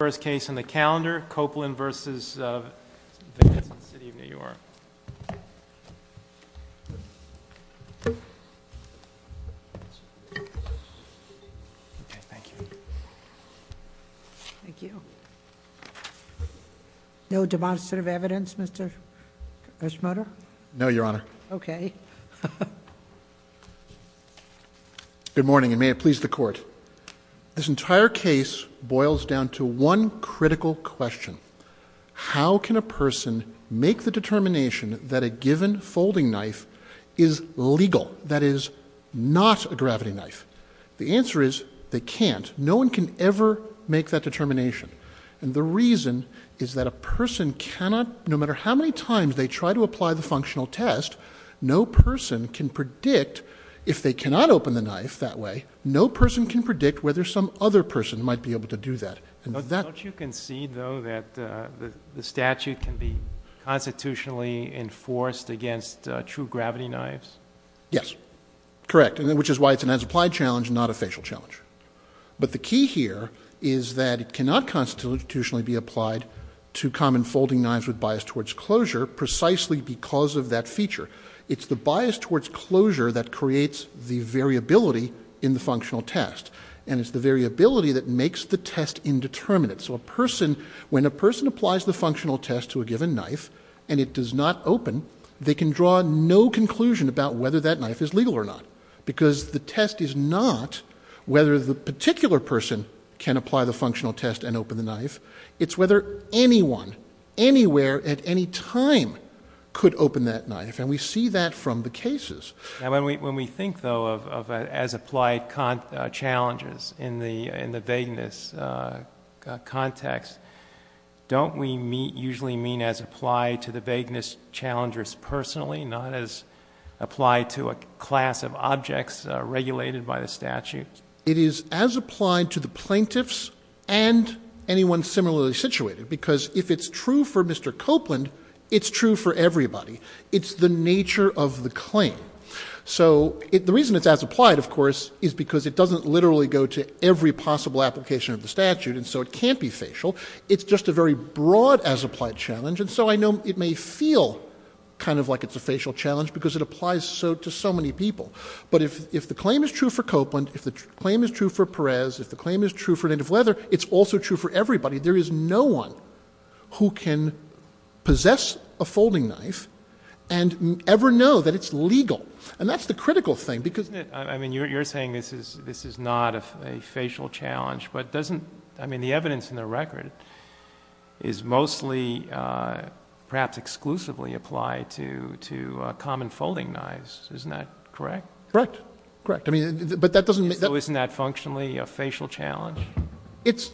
The first case on the calendar, Copeland v. Vance in the City of New York. Okay, thank you. Thank you. No demonstrative evidence, Mr. Eschmutter? No, Your Honor. Good morning, and may it please the Court. This entire case boils down to one critical question. How can a person make the determination that a given folding knife is legal? That is, not a gravity knife. The answer is, they can't. No one can ever make that determination. And the reason is that a person cannot, no matter how many times they try to apply the functional test, no person can predict, if they cannot open the knife that way, no person can predict whether some other person might be able to do that. Don't you concede, though, that the statute can be constitutionally enforced against true gravity knives? Yes, correct, which is why it's an as-applied challenge, not a facial challenge. But the key here is that it cannot constitutionally be applied to common folding knives with bias towards closure precisely because of that feature. It's the bias towards closure that creates the variability in the functional test, and it's the variability that makes the test indeterminate. So when a person applies the functional test to a given knife and it does not open, they can draw no conclusion about whether that knife is legal or not, because the test is not whether the particular person can apply the functional test and open the knife. It's whether anyone, anywhere, at any time could open that knife, and we see that from the cases. When we think, though, of as-applied challenges in the vagueness context, don't we usually mean as applied to the vagueness challengers personally, not as applied to a class of objects regulated by the statute? It is as applied to the plaintiffs and anyone similarly situated, because if it's true for Mr. Copeland, it's true for everybody. It's the nature of the claim. So the reason it's as applied, of course, is because it doesn't literally go to every possible application of the statute, and so it can't be facial. It's just a very broad as-applied challenge, and so I know it may feel kind of like it's a facial challenge because it applies to so many people. But if the claim is true for Copeland, if the claim is true for Perez, if the claim is true for Native Leather, it's also true for everybody. There is no one who can possess a folding knife and ever know that it's legal, and that's the critical thing because... I mean, you're saying this is not a facial challenge, but doesn't the evidence in the record is mostly perhaps exclusively applied to common folding knives. Isn't that correct? Correct. Correct. But that doesn't mean... So isn't that functionally a facial challenge?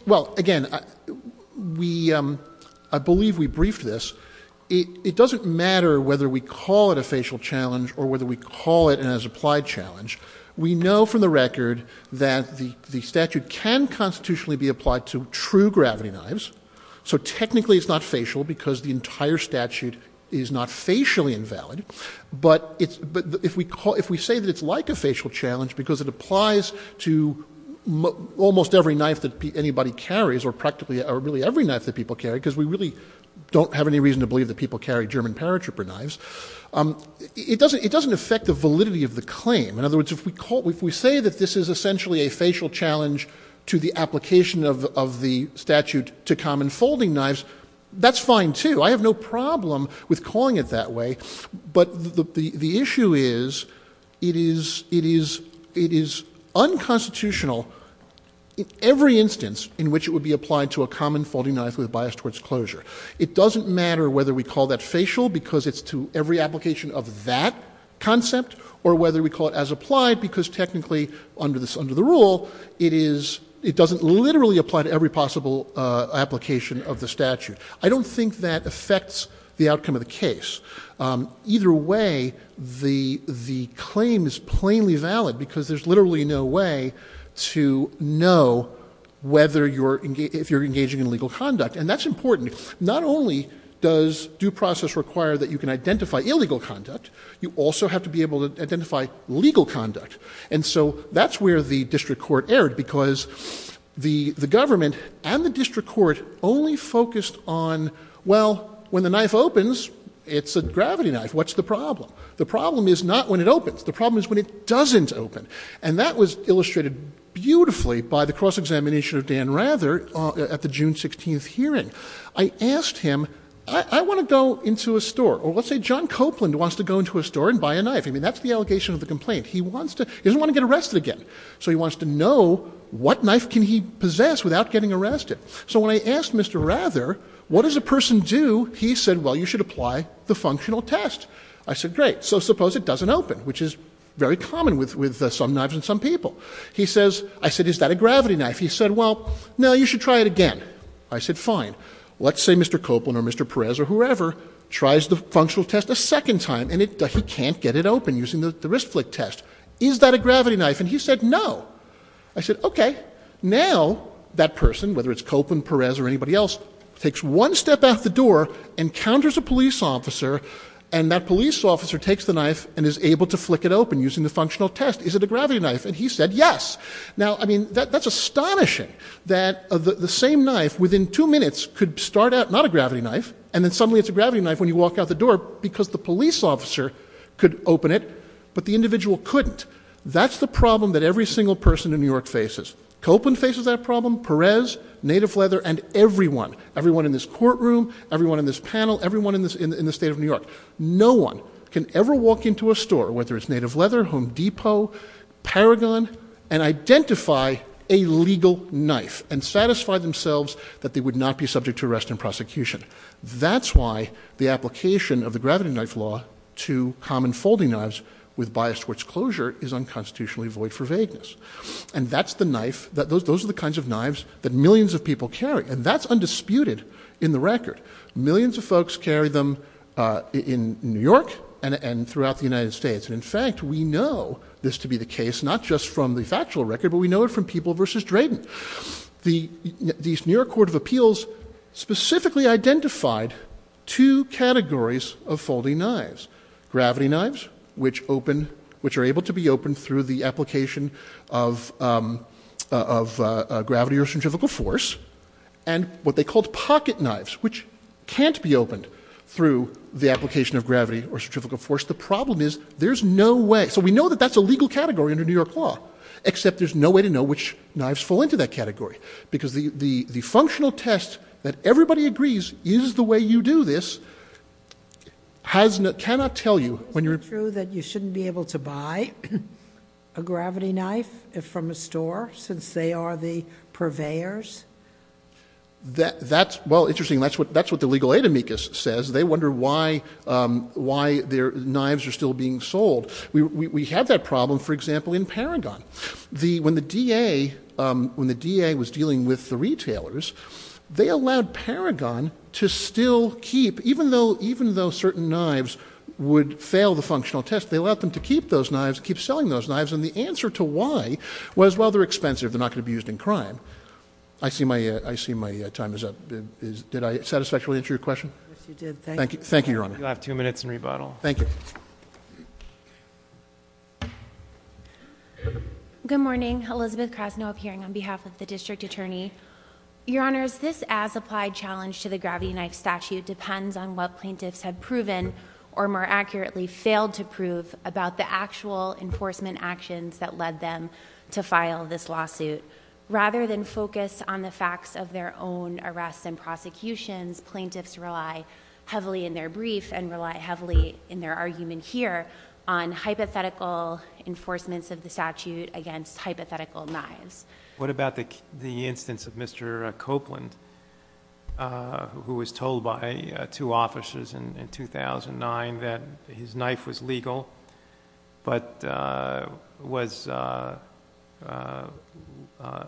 Well, again, I believe we briefed this. It doesn't matter whether we call it a facial challenge or whether we call it an as-applied challenge. We know from the record that the statute can constitutionally be applied to true gravity knives, so technically it's not facial because the entire statute is not facially invalid. But if we say that it's like a facial challenge because it applies to almost every knife that anybody carries or practically really every knife that people carry, because we really don't have any reason to believe that people carry German paratrooper knives, it doesn't affect the validity of the claim. In other words, if we say that this is essentially a facial challenge to the application of the statute to common folding knives, that's fine too. I have no problem with calling it that way. But the issue is it is unconstitutional in every instance in which it would be applied to a common folding knife with a bias towards closure. It doesn't matter whether we call that facial because it's to every application of that concept or whether we call it as-applied because technically under the rule, it doesn't literally apply to every possible application of the statute. I don't think that affects the outcome of the case. Either way, the claim is plainly valid because there's literally no way to know if you're engaging in illegal conduct. And that's important. Not only does due process require that you can identify illegal conduct, you also have to be able to identify legal conduct. And so that's where the district court erred because the government and the district court only focused on, well, when the knife opens, it's a gravity knife. What's the problem? The problem is not when it opens. The problem is when it doesn't open. And that was illustrated beautifully by the cross-examination of Dan Rather at the June 16th hearing. I asked him, I want to go into a store. Or let's say John Copeland wants to go into a store and buy a knife. I mean, that's the allegation of the complaint. He doesn't want to get arrested again. So he wants to know what knife can he possess without getting arrested. So when I asked Mr. Rather, what does a person do, he said, well, you should apply the functional test. I said, great. So suppose it doesn't open, which is very common with some knives and some people. I said, is that a gravity knife? He said, well, no, you should try it again. I said, fine. Let's say Mr. Copeland or Mr. Perez or whoever tries the functional test a second time and he can't get it open using the wrist flick test. Is that a gravity knife? And he said, no. I said, okay, now that person, whether it's Copeland, Perez, or anybody else, takes one step out the door, encounters a police officer, and that police officer takes the knife and is able to flick it open using the functional test. Is it a gravity knife? And he said, yes. Now, I mean, that's astonishing that the same knife within two minutes could start out not a gravity knife and then suddenly it's a gravity knife when you walk out the door because the police officer could open it, but the individual couldn't. That's the problem that every single person in New York faces. Copeland faces that problem, Perez, Native Leather, and everyone, everyone in this courtroom, everyone in this panel, everyone in the state of New York. No one can ever walk into a store, whether it's Native Leather, Home Depot, Paragon, and identify a legal knife and satisfy themselves that they would not be subject to arrest and prosecution. That's why the application of the gravity knife law to common folding knives with bias towards closure is unconstitutionally void for vagueness. And that's the knife, those are the kinds of knives that millions of people carry, and that's undisputed in the record. Millions of folks carry them in New York and throughout the United States. And, in fact, we know this to be the case, not just from the factual record, but we know it from People v. Drayden. The New York Court of Appeals specifically identified two categories of folding knives, gravity knives, which are able to be opened through the application of gravity or centrifugal force, and what they called pocket knives, which can't be opened through the application of gravity or centrifugal force. The problem is there's no way. So we know that that's a legal category under New York law, except there's no way to know which knives fall into that category, because the functional test that everybody agrees is the way you do this cannot tell you when you're... Well, interesting, that's what the legal aid amicus says. They wonder why their knives are still being sold. We have that problem, for example, in Paragon. When the DA was dealing with the retailers, they allowed Paragon to still keep, even though certain knives would fail the functional test, they allowed them to keep those knives, keep selling those knives, and the answer to why was, well, they're expensive, they're not going to be used in crime. I see my time is up. Did I satisfactorily answer your question? Yes, you did. Thank you. Thank you, Your Honor. You'll have two minutes in rebuttal. Thank you. Good morning. Elizabeth Krasno appearing on behalf of the District Attorney. Your Honors, this as-applied challenge to the gravity knife statute depends on what plaintiffs have proven, or more accurately, failed to prove, about the actual enforcement actions that led them to file this lawsuit. Rather than focus on the facts of their own arrests and prosecutions, plaintiffs rely heavily in their brief and rely heavily in their argument here on hypothetical enforcements of the statute against hypothetical knives. What about the instance of Mr. Copeland, who was told by two officers in 2009 that his knife was legal, but was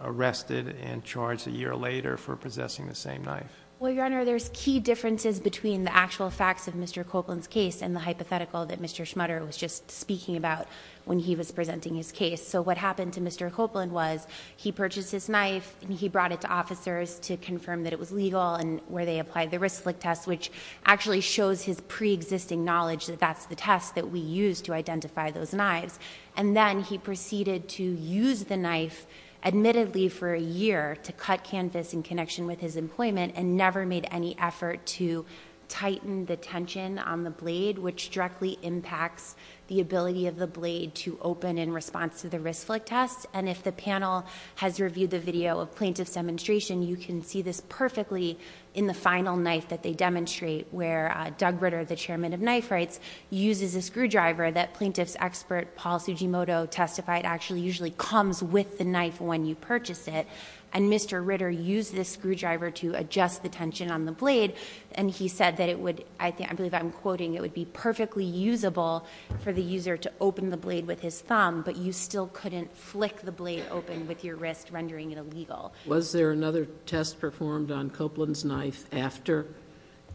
arrested and charged a year later for possessing the same knife? Well, Your Honor, there's key differences between the actual facts of Mr. Copeland's case and the hypothetical that Mr. Schmutter was just speaking about when he was presenting his case. What happened to Mr. Copeland was he purchased his knife and he brought it to officers to confirm that it was legal and where they applied the risk-flick test, which actually shows his pre-existing knowledge that that's the test that we used to identify those knives. Then he proceeded to use the knife, admittedly for a year, to cut canvas in connection with his employment and never made any effort to tighten the tension on the blade, which directly impacts the ability of the blade to open in response to the risk-flick test. And if the panel has reviewed the video of plaintiff's demonstration, you can see this perfectly in the final knife that they demonstrate, where Doug Ritter, the chairman of Knife Rights, uses a screwdriver that plaintiff's expert, Paul Sujimoto, testified actually usually comes with the knife when you purchase it. And Mr. Ritter used this screwdriver to adjust the tension on the blade, and he said that it would, I believe I'm quoting, it would be perfectly usable for the user to open the blade with his thumb, but you still couldn't flick the blade open with your wrist, rendering it illegal. Was there another test performed on Copeland's knife after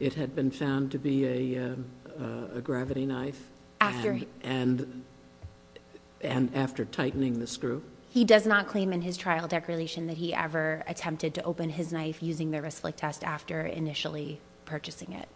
it had been found to be a gravity knife? And after tightening the screw? He does not claim in his trial declaration that he ever attempted to open his knife using the risk-flick test after initially purchasing it.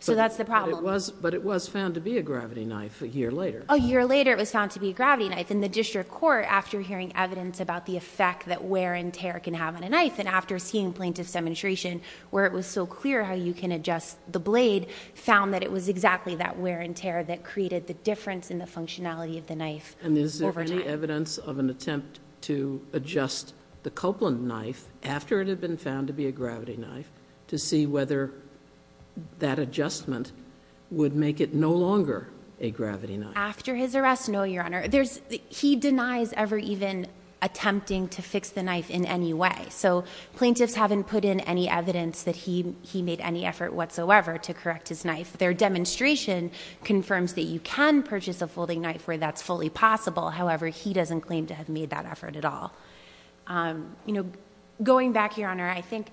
So that's the problem. But it was found to be a gravity knife a year later. A year later it was found to be a gravity knife, and the district court, after hearing evidence about the effect that wear and tear can have on a knife, and after seeing plaintiff's demonstration where it was so clear how you can adjust the blade, found that it was exactly that wear and tear that created the difference in the functionality of the knife over time. And is there any evidence of an attempt to adjust the Copeland knife after it had been found to be a gravity knife to see whether that adjustment would make it no longer a gravity knife? After his arrest, no, Your Honor. He denies ever even attempting to fix the knife in any way. So plaintiffs haven't put in any evidence that he made any effort whatsoever to correct his knife. Their demonstration confirms that you can purchase a folding knife where that's fully possible. However, he doesn't claim to have made that effort at all. Going back, Your Honor, I think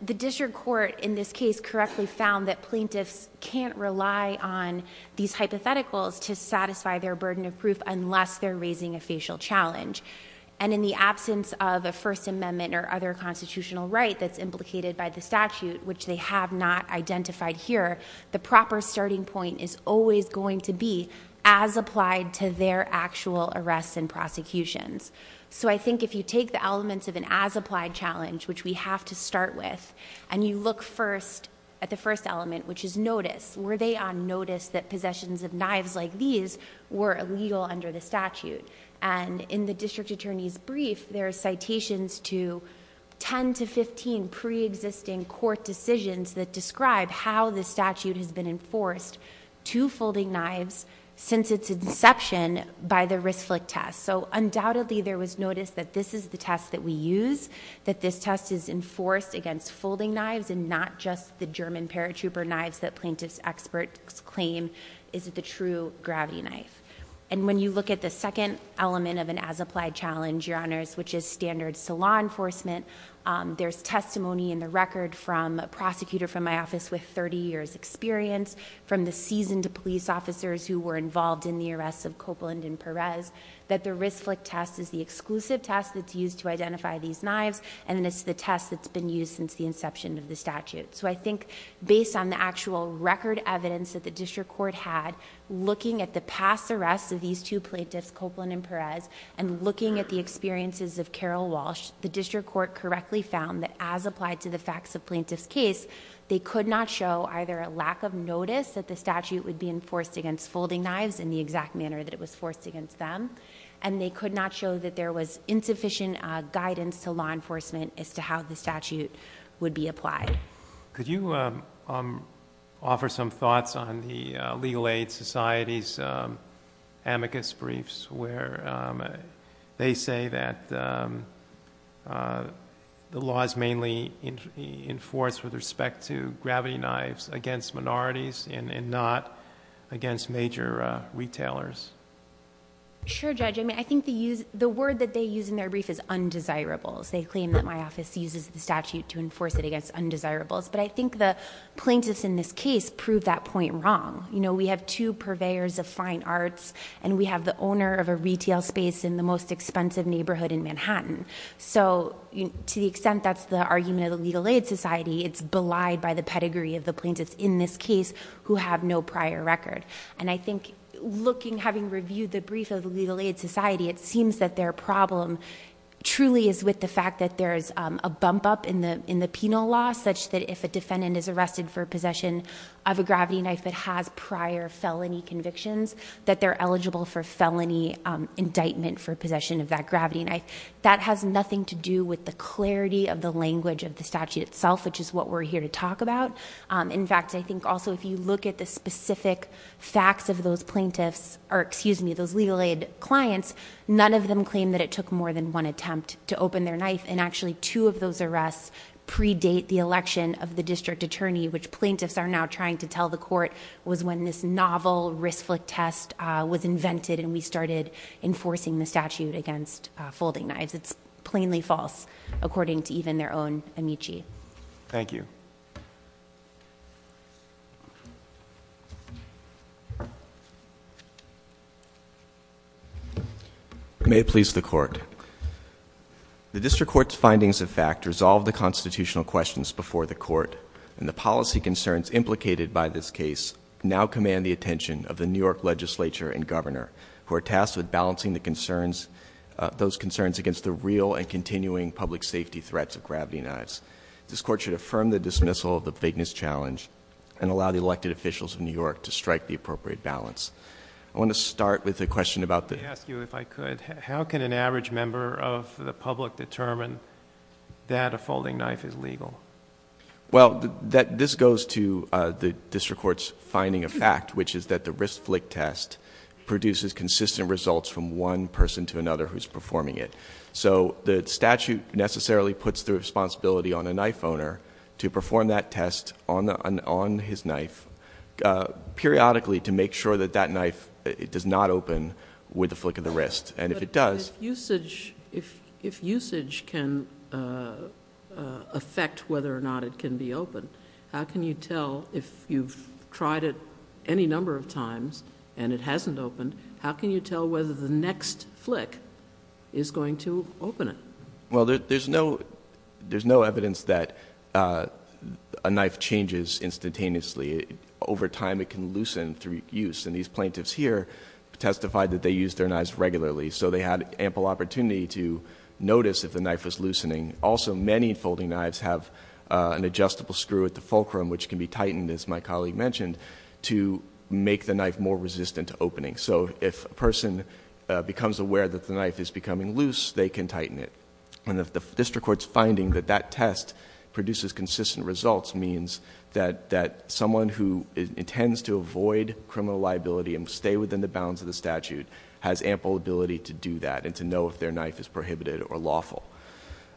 the district court in this case correctly found that plaintiffs can't rely on these hypotheticals to satisfy their burden of proof unless they're raising a facial challenge. And in the absence of a First Amendment or other constitutional right that's implicated by the statute, which they have not identified here, the proper starting point is always going to be as applied to their actual arrests and prosecutions. So I think if you take the elements of an as-applied challenge, which we have to start with, and you look first at the first element, which is notice. Were they on notice that possessions of knives like these were illegal under the statute? And in the district attorney's brief, there are citations to 10 to 15 pre-existing court decisions that describe how the statute has been enforced to folding knives since its inception by the risk flick test. So undoubtedly, there was notice that this is the test that we use, that this test is enforced against folding knives and not just the German paratrooper knives that plaintiffs' experts claim is the true gravity knife. And when you look at the second element of an as-applied challenge, Your Honors, which is standards to law enforcement, there's testimony in the record from a prosecutor from my office with 30 years' experience, from the seasoned police officers who were involved in the arrests of Copeland and Perez, that the risk flick test is the exclusive test that's used to identify these knives, and it's the test that's been used since the inception of the statute. So I think based on the actual record evidence that the district court had, looking at the past arrests of these two plaintiffs, Copeland and Perez, and looking at the experiences of Carol Walsh, the district court correctly found that as applied to the facts of plaintiff's case, they could not show either a lack of notice that the statute would be enforced against folding knives in the exact manner that it was forced against them, and they could not show that there was insufficient guidance to law enforcement as to how the statute would be applied. Could you offer some thoughts on the Legal Aid Society's amicus briefs where they say that the law is mainly enforced with respect to gravity knives against minorities and not against major retailers? Sure, Judge. I think the word that they use in their brief is undesirables. They claim that my office uses the statute to enforce it against undesirables, but I think the plaintiffs in this case prove that point wrong. We have two purveyors of fine arts, and we have the owner of a retail space in the most expensive neighborhood in Manhattan. So to the extent that's the argument of the Legal Aid Society, it's belied by the pedigree of the plaintiffs in this case who have no prior record. And I think having reviewed the brief of the Legal Aid Society, it seems that their problem truly is with the fact that there is a bump up in the penal law such that if a defendant is arrested for possession of a gravity knife that has prior felony convictions, that they're eligible for felony indictment for possession of that gravity knife. That has nothing to do with the clarity of the language of the statute itself, which is what we're here to talk about. In fact, I think also if you look at the specific facts of those plaintiffs, or excuse me, those Legal Aid clients, none of them claim that it took more than one attempt to open their knife, and actually two of those arrests predate the election of the district attorney, which plaintiffs are now trying to tell the court, was when this novel wrist flick test was invented, and we started enforcing the statute against folding knives. It's plainly false, according to even their own amici. Thank you. May it please the court. The district court's findings of fact resolve the constitutional questions before the court, and the policy concerns implicated by this case now command the attention of the New York legislature and governor, who are tasked with balancing those concerns against the real and continuing public safety threats of gravity knives. This court should affirm the dismissal of the fakeness challenge, and allow the elected officials of New York to strike the appropriate balance. I want to start with a question about the- Let me ask you, if I could, how can an average member of the public determine that a folding knife is legal? Well, this goes to the district court's finding of fact, which is that the wrist flick test produces consistent results from one person to another who's performing it. So the statute necessarily puts the responsibility on a knife owner to perform that test on his knife, periodically to make sure that that knife does not open with the flick of the wrist. And if it does- But if usage can affect whether or not it can be opened, how can you tell if you've tried it any number of times and it hasn't opened, how can you tell whether the next flick is going to open it? Well, there's no evidence that a knife changes instantaneously. Over time, it can loosen through use. And these plaintiffs here testified that they used their knives regularly, so they had ample opportunity to notice if the knife was loosening. Also, many folding knives have an adjustable screw at the fulcrum, which can be tightened, as my colleague mentioned, to make the knife more resistant to opening. So if a person becomes aware that the knife is becoming loose, they can tighten it. And if the district court's finding that that test produces consistent results, means that someone who intends to avoid criminal liability and stay within the bounds of the statute has ample ability to do that and to know if their knife is prohibited or lawful.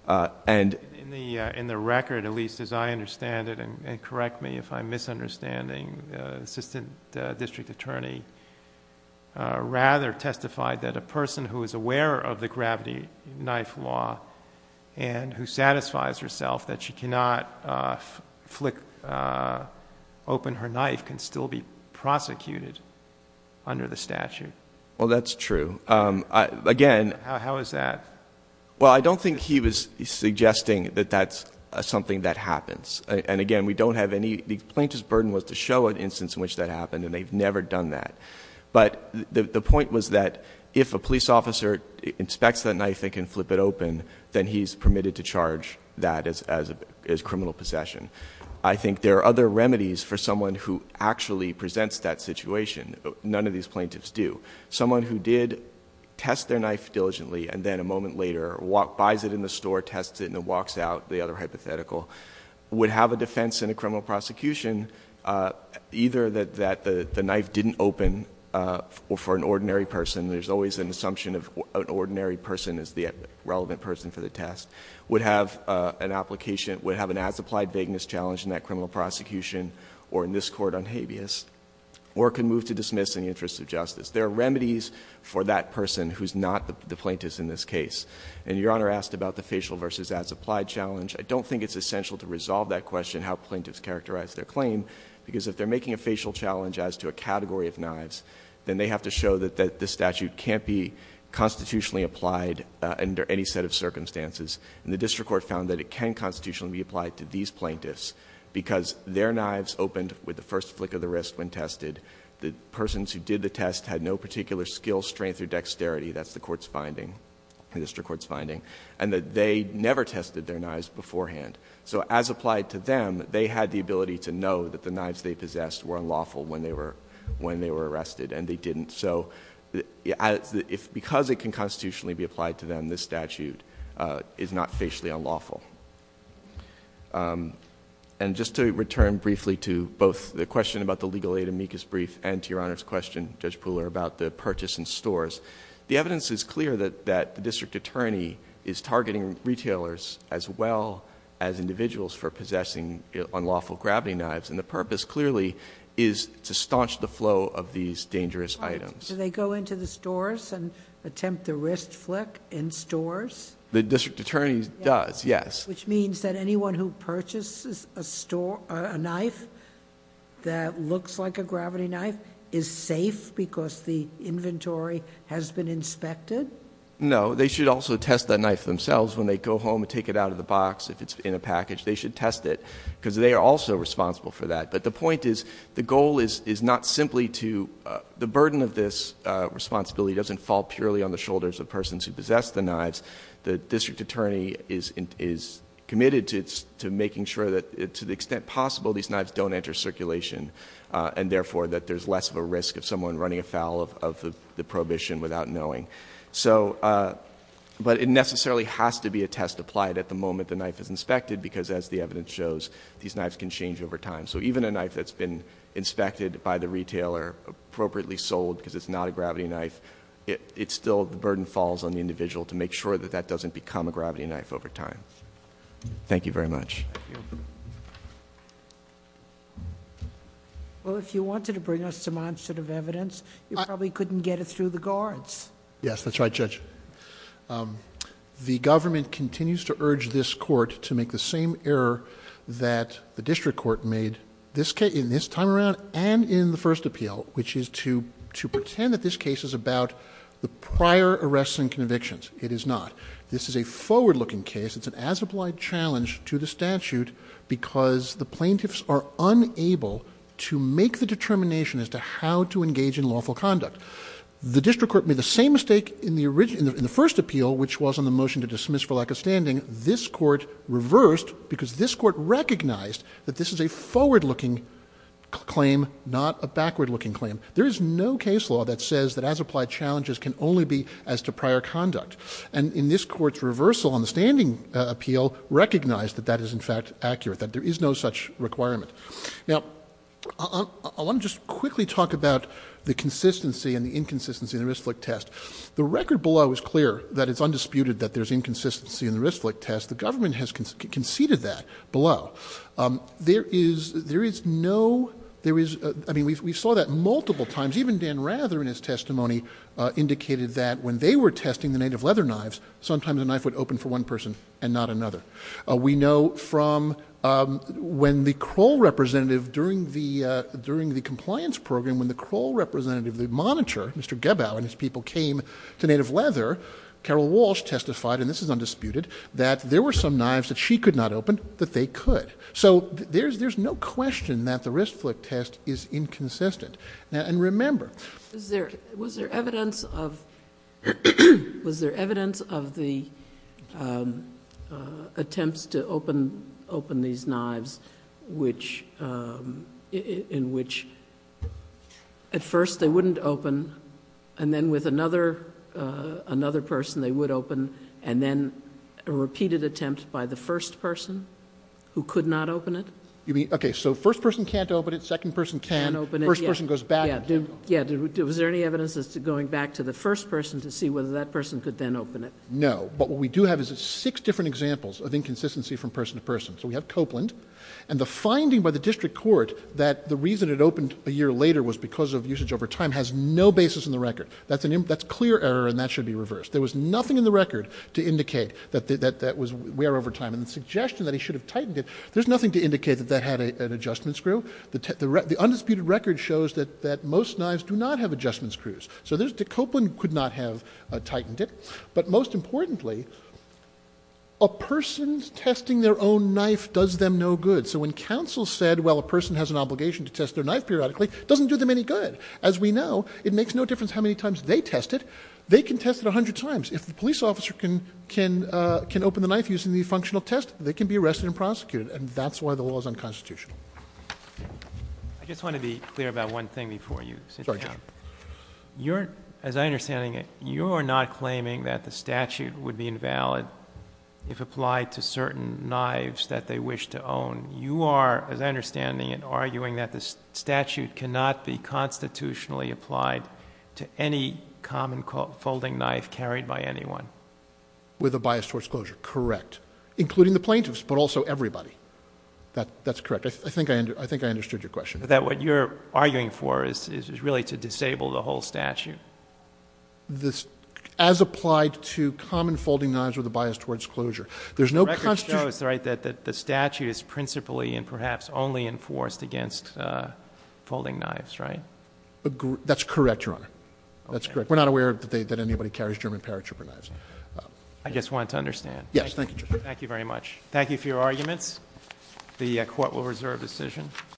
And- In the record, at least as I understand it, and correct me if I'm misunderstanding, the assistant district attorney rather testified that a person who is aware of the gravity knife law and who satisfies herself that she cannot open her knife can still be prosecuted under the statute. Well, that's true. Again- How is that? Well, I don't think he was suggesting that that's something that happens. And, again, we don't have any-the plaintiff's burden was to show an instance in which that happened, and they've never done that. But the point was that if a police officer inspects that knife, they can flip it open, then he's permitted to charge that as criminal possession. I think there are other remedies for someone who actually presents that situation. None of these plaintiffs do. Someone who did test their knife diligently and then a moment later buys it in the store, tests it, and then walks out, the other hypothetical, would have a defense in a criminal prosecution, either that the knife didn't open for an ordinary person, there's always an assumption of an ordinary person as the relevant person for the test, would have an application, would have an as-applied vagueness challenge in that criminal prosecution or in this court on habeas, or can move to dismiss in the interest of justice. There are remedies for that person who's not the plaintiff in this case. And Your Honor asked about the facial versus as-applied challenge. I don't think it's essential to resolve that question, how plaintiffs characterize their claim, because if they're making a facial challenge as to a category of knives, then they have to show that this statute can't be constitutionally applied under any set of circumstances. And the district court found that it can constitutionally be applied to these plaintiffs because their knives opened with the first flick of the wrist when tested. The persons who did the test had no particular skill, strength, or dexterity. That's the court's finding, the district court's finding. And that they never tested their knives beforehand. So as applied to them, they had the ability to know that the knives they possessed were unlawful when they were arrested, and they didn't. So because it can constitutionally be applied to them, this statute is not facially unlawful. And just to return briefly to both the question about the legal aid amicus brief and to Your Honor's question, Judge Pooler, about the purchase in stores, the evidence is clear that the district attorney is targeting retailers as well as individuals for possessing unlawful gravity knives. And the purpose clearly is to staunch the flow of these dangerous items. Do they go into the stores and attempt the wrist flick in stores? The district attorney does, yes. Which means that anyone who purchases a knife that looks like a gravity knife is safe because the inventory has been inspected? No. They should also test that knife themselves when they go home and take it out of the box. If it's in a package, they should test it. Because they are also responsible for that. But the point is, the goal is not simply to... The burden of this responsibility doesn't fall purely on the shoulders of persons who possess the knives. The district attorney is committed to making sure that, to the extent possible, these knives don't enter circulation and, therefore, that there's less of a risk of someone running afoul of the prohibition without knowing. But it necessarily has to be a test applied at the moment the knife is inspected because, as the evidence shows, these knives can change over time. So even a knife that's been inspected by the retailer, appropriately sold because it's not a gravity knife, it still... the burden falls on the individual to make sure that that doesn't become a gravity knife over time. Thank you very much. Thank you. Well, if you wanted to bring us some on set of evidence, you probably couldn't get it through the guards. Yes, that's right, Judge. The government continues to urge this court to make the same error that the district court made in this time around and in the first appeal, which is to pretend that this case is about the prior arrests and convictions. It is not. This is a forward-looking case. It's an as-applied challenge to the statute because the plaintiffs are unable to make the determination as to how to engage in lawful conduct. The district court made the same mistake in the first appeal, which was on the motion to dismiss for lack of standing. This court reversed because this court recognized that this is a forward-looking claim, not a backward-looking claim. There is no case law that says that as-applied challenges can only be as to prior conduct. And in this court's reversal on the standing appeal, recognized that that is, in fact, accurate, that there is no such requirement. Now, I want to just quickly talk about the consistency and the inconsistency in the Ryschlik test. The record below is clear that it's undisputed that there's inconsistency in the Ryschlik test. The government has conceded that below. There is no ‑‑ I mean, we saw that multiple times. Even Dan Rather in his testimony indicated that when they were testing the native leather knives, sometimes a knife would open for one person and not another. We know from when the Kroll representative during the compliance program, when the Kroll representative, the monitor, Mr. Gebau and his people came to native leather, Carol Walsh testified, and this is undisputed, that there were some knives that she could not open that they could. So there's no question that the Ryschlik test is inconsistent. And remember ‑‑ Was there evidence of the attempts to open these knives in which at first they wouldn't open and then with another person they would open and then a repeated attempt by the first person who could not open it? Okay. So first person can't open it. Second person can. First person goes back. Yeah. Was there any evidence as to going back to the first person to see whether that person could then open it? No. But what we do have is six different examples of inconsistency from person to person. So we have Copeland. And the finding by the district court that the reason it opened a year later was because of usage over time has no basis in the record. That's clear error and that should be reversed. There was nothing in the record to indicate that that was where over time. And the suggestion that he should have tightened it, there's nothing to indicate that that had an adjustment screw. The undisputed record shows that most knives do not have adjustment screws. So Copeland could not have tightened it. But most importantly, a person testing their own knife does them no good. So when counsel said, well, a person has an obligation to test their knife periodically, it doesn't do them any good. As we know, it makes no difference how many times they test it. They can test it 100 times. If the police officer can open the knife using the functional test, they can be arrested and prosecuted. And that's why the law is unconstitutional. I just want to be clear about one thing before you sit down. As I understand it, you are not claiming that the statute would be invalid if applied to certain knives that they wish to own. You are, as I understand it, arguing that the statute cannot be constitutionally applied to any common folding knife carried by anyone. With a bias towards closure. Correct. Including the plaintiffs, but also everybody. That's correct. I think I understood your question. That what you're arguing for is really to disable the whole statute. As applied to common folding knives with a bias towards closure. The record shows that the statute is principally and perhaps only enforced against folding knives, right? That's correct, Your Honor. That's correct. We're not aware that anybody carries German paratrooper knives. I just wanted to understand. Yes, thank you, Your Honor. Thank you very much. Thank you for your arguments. The court will reserve decision.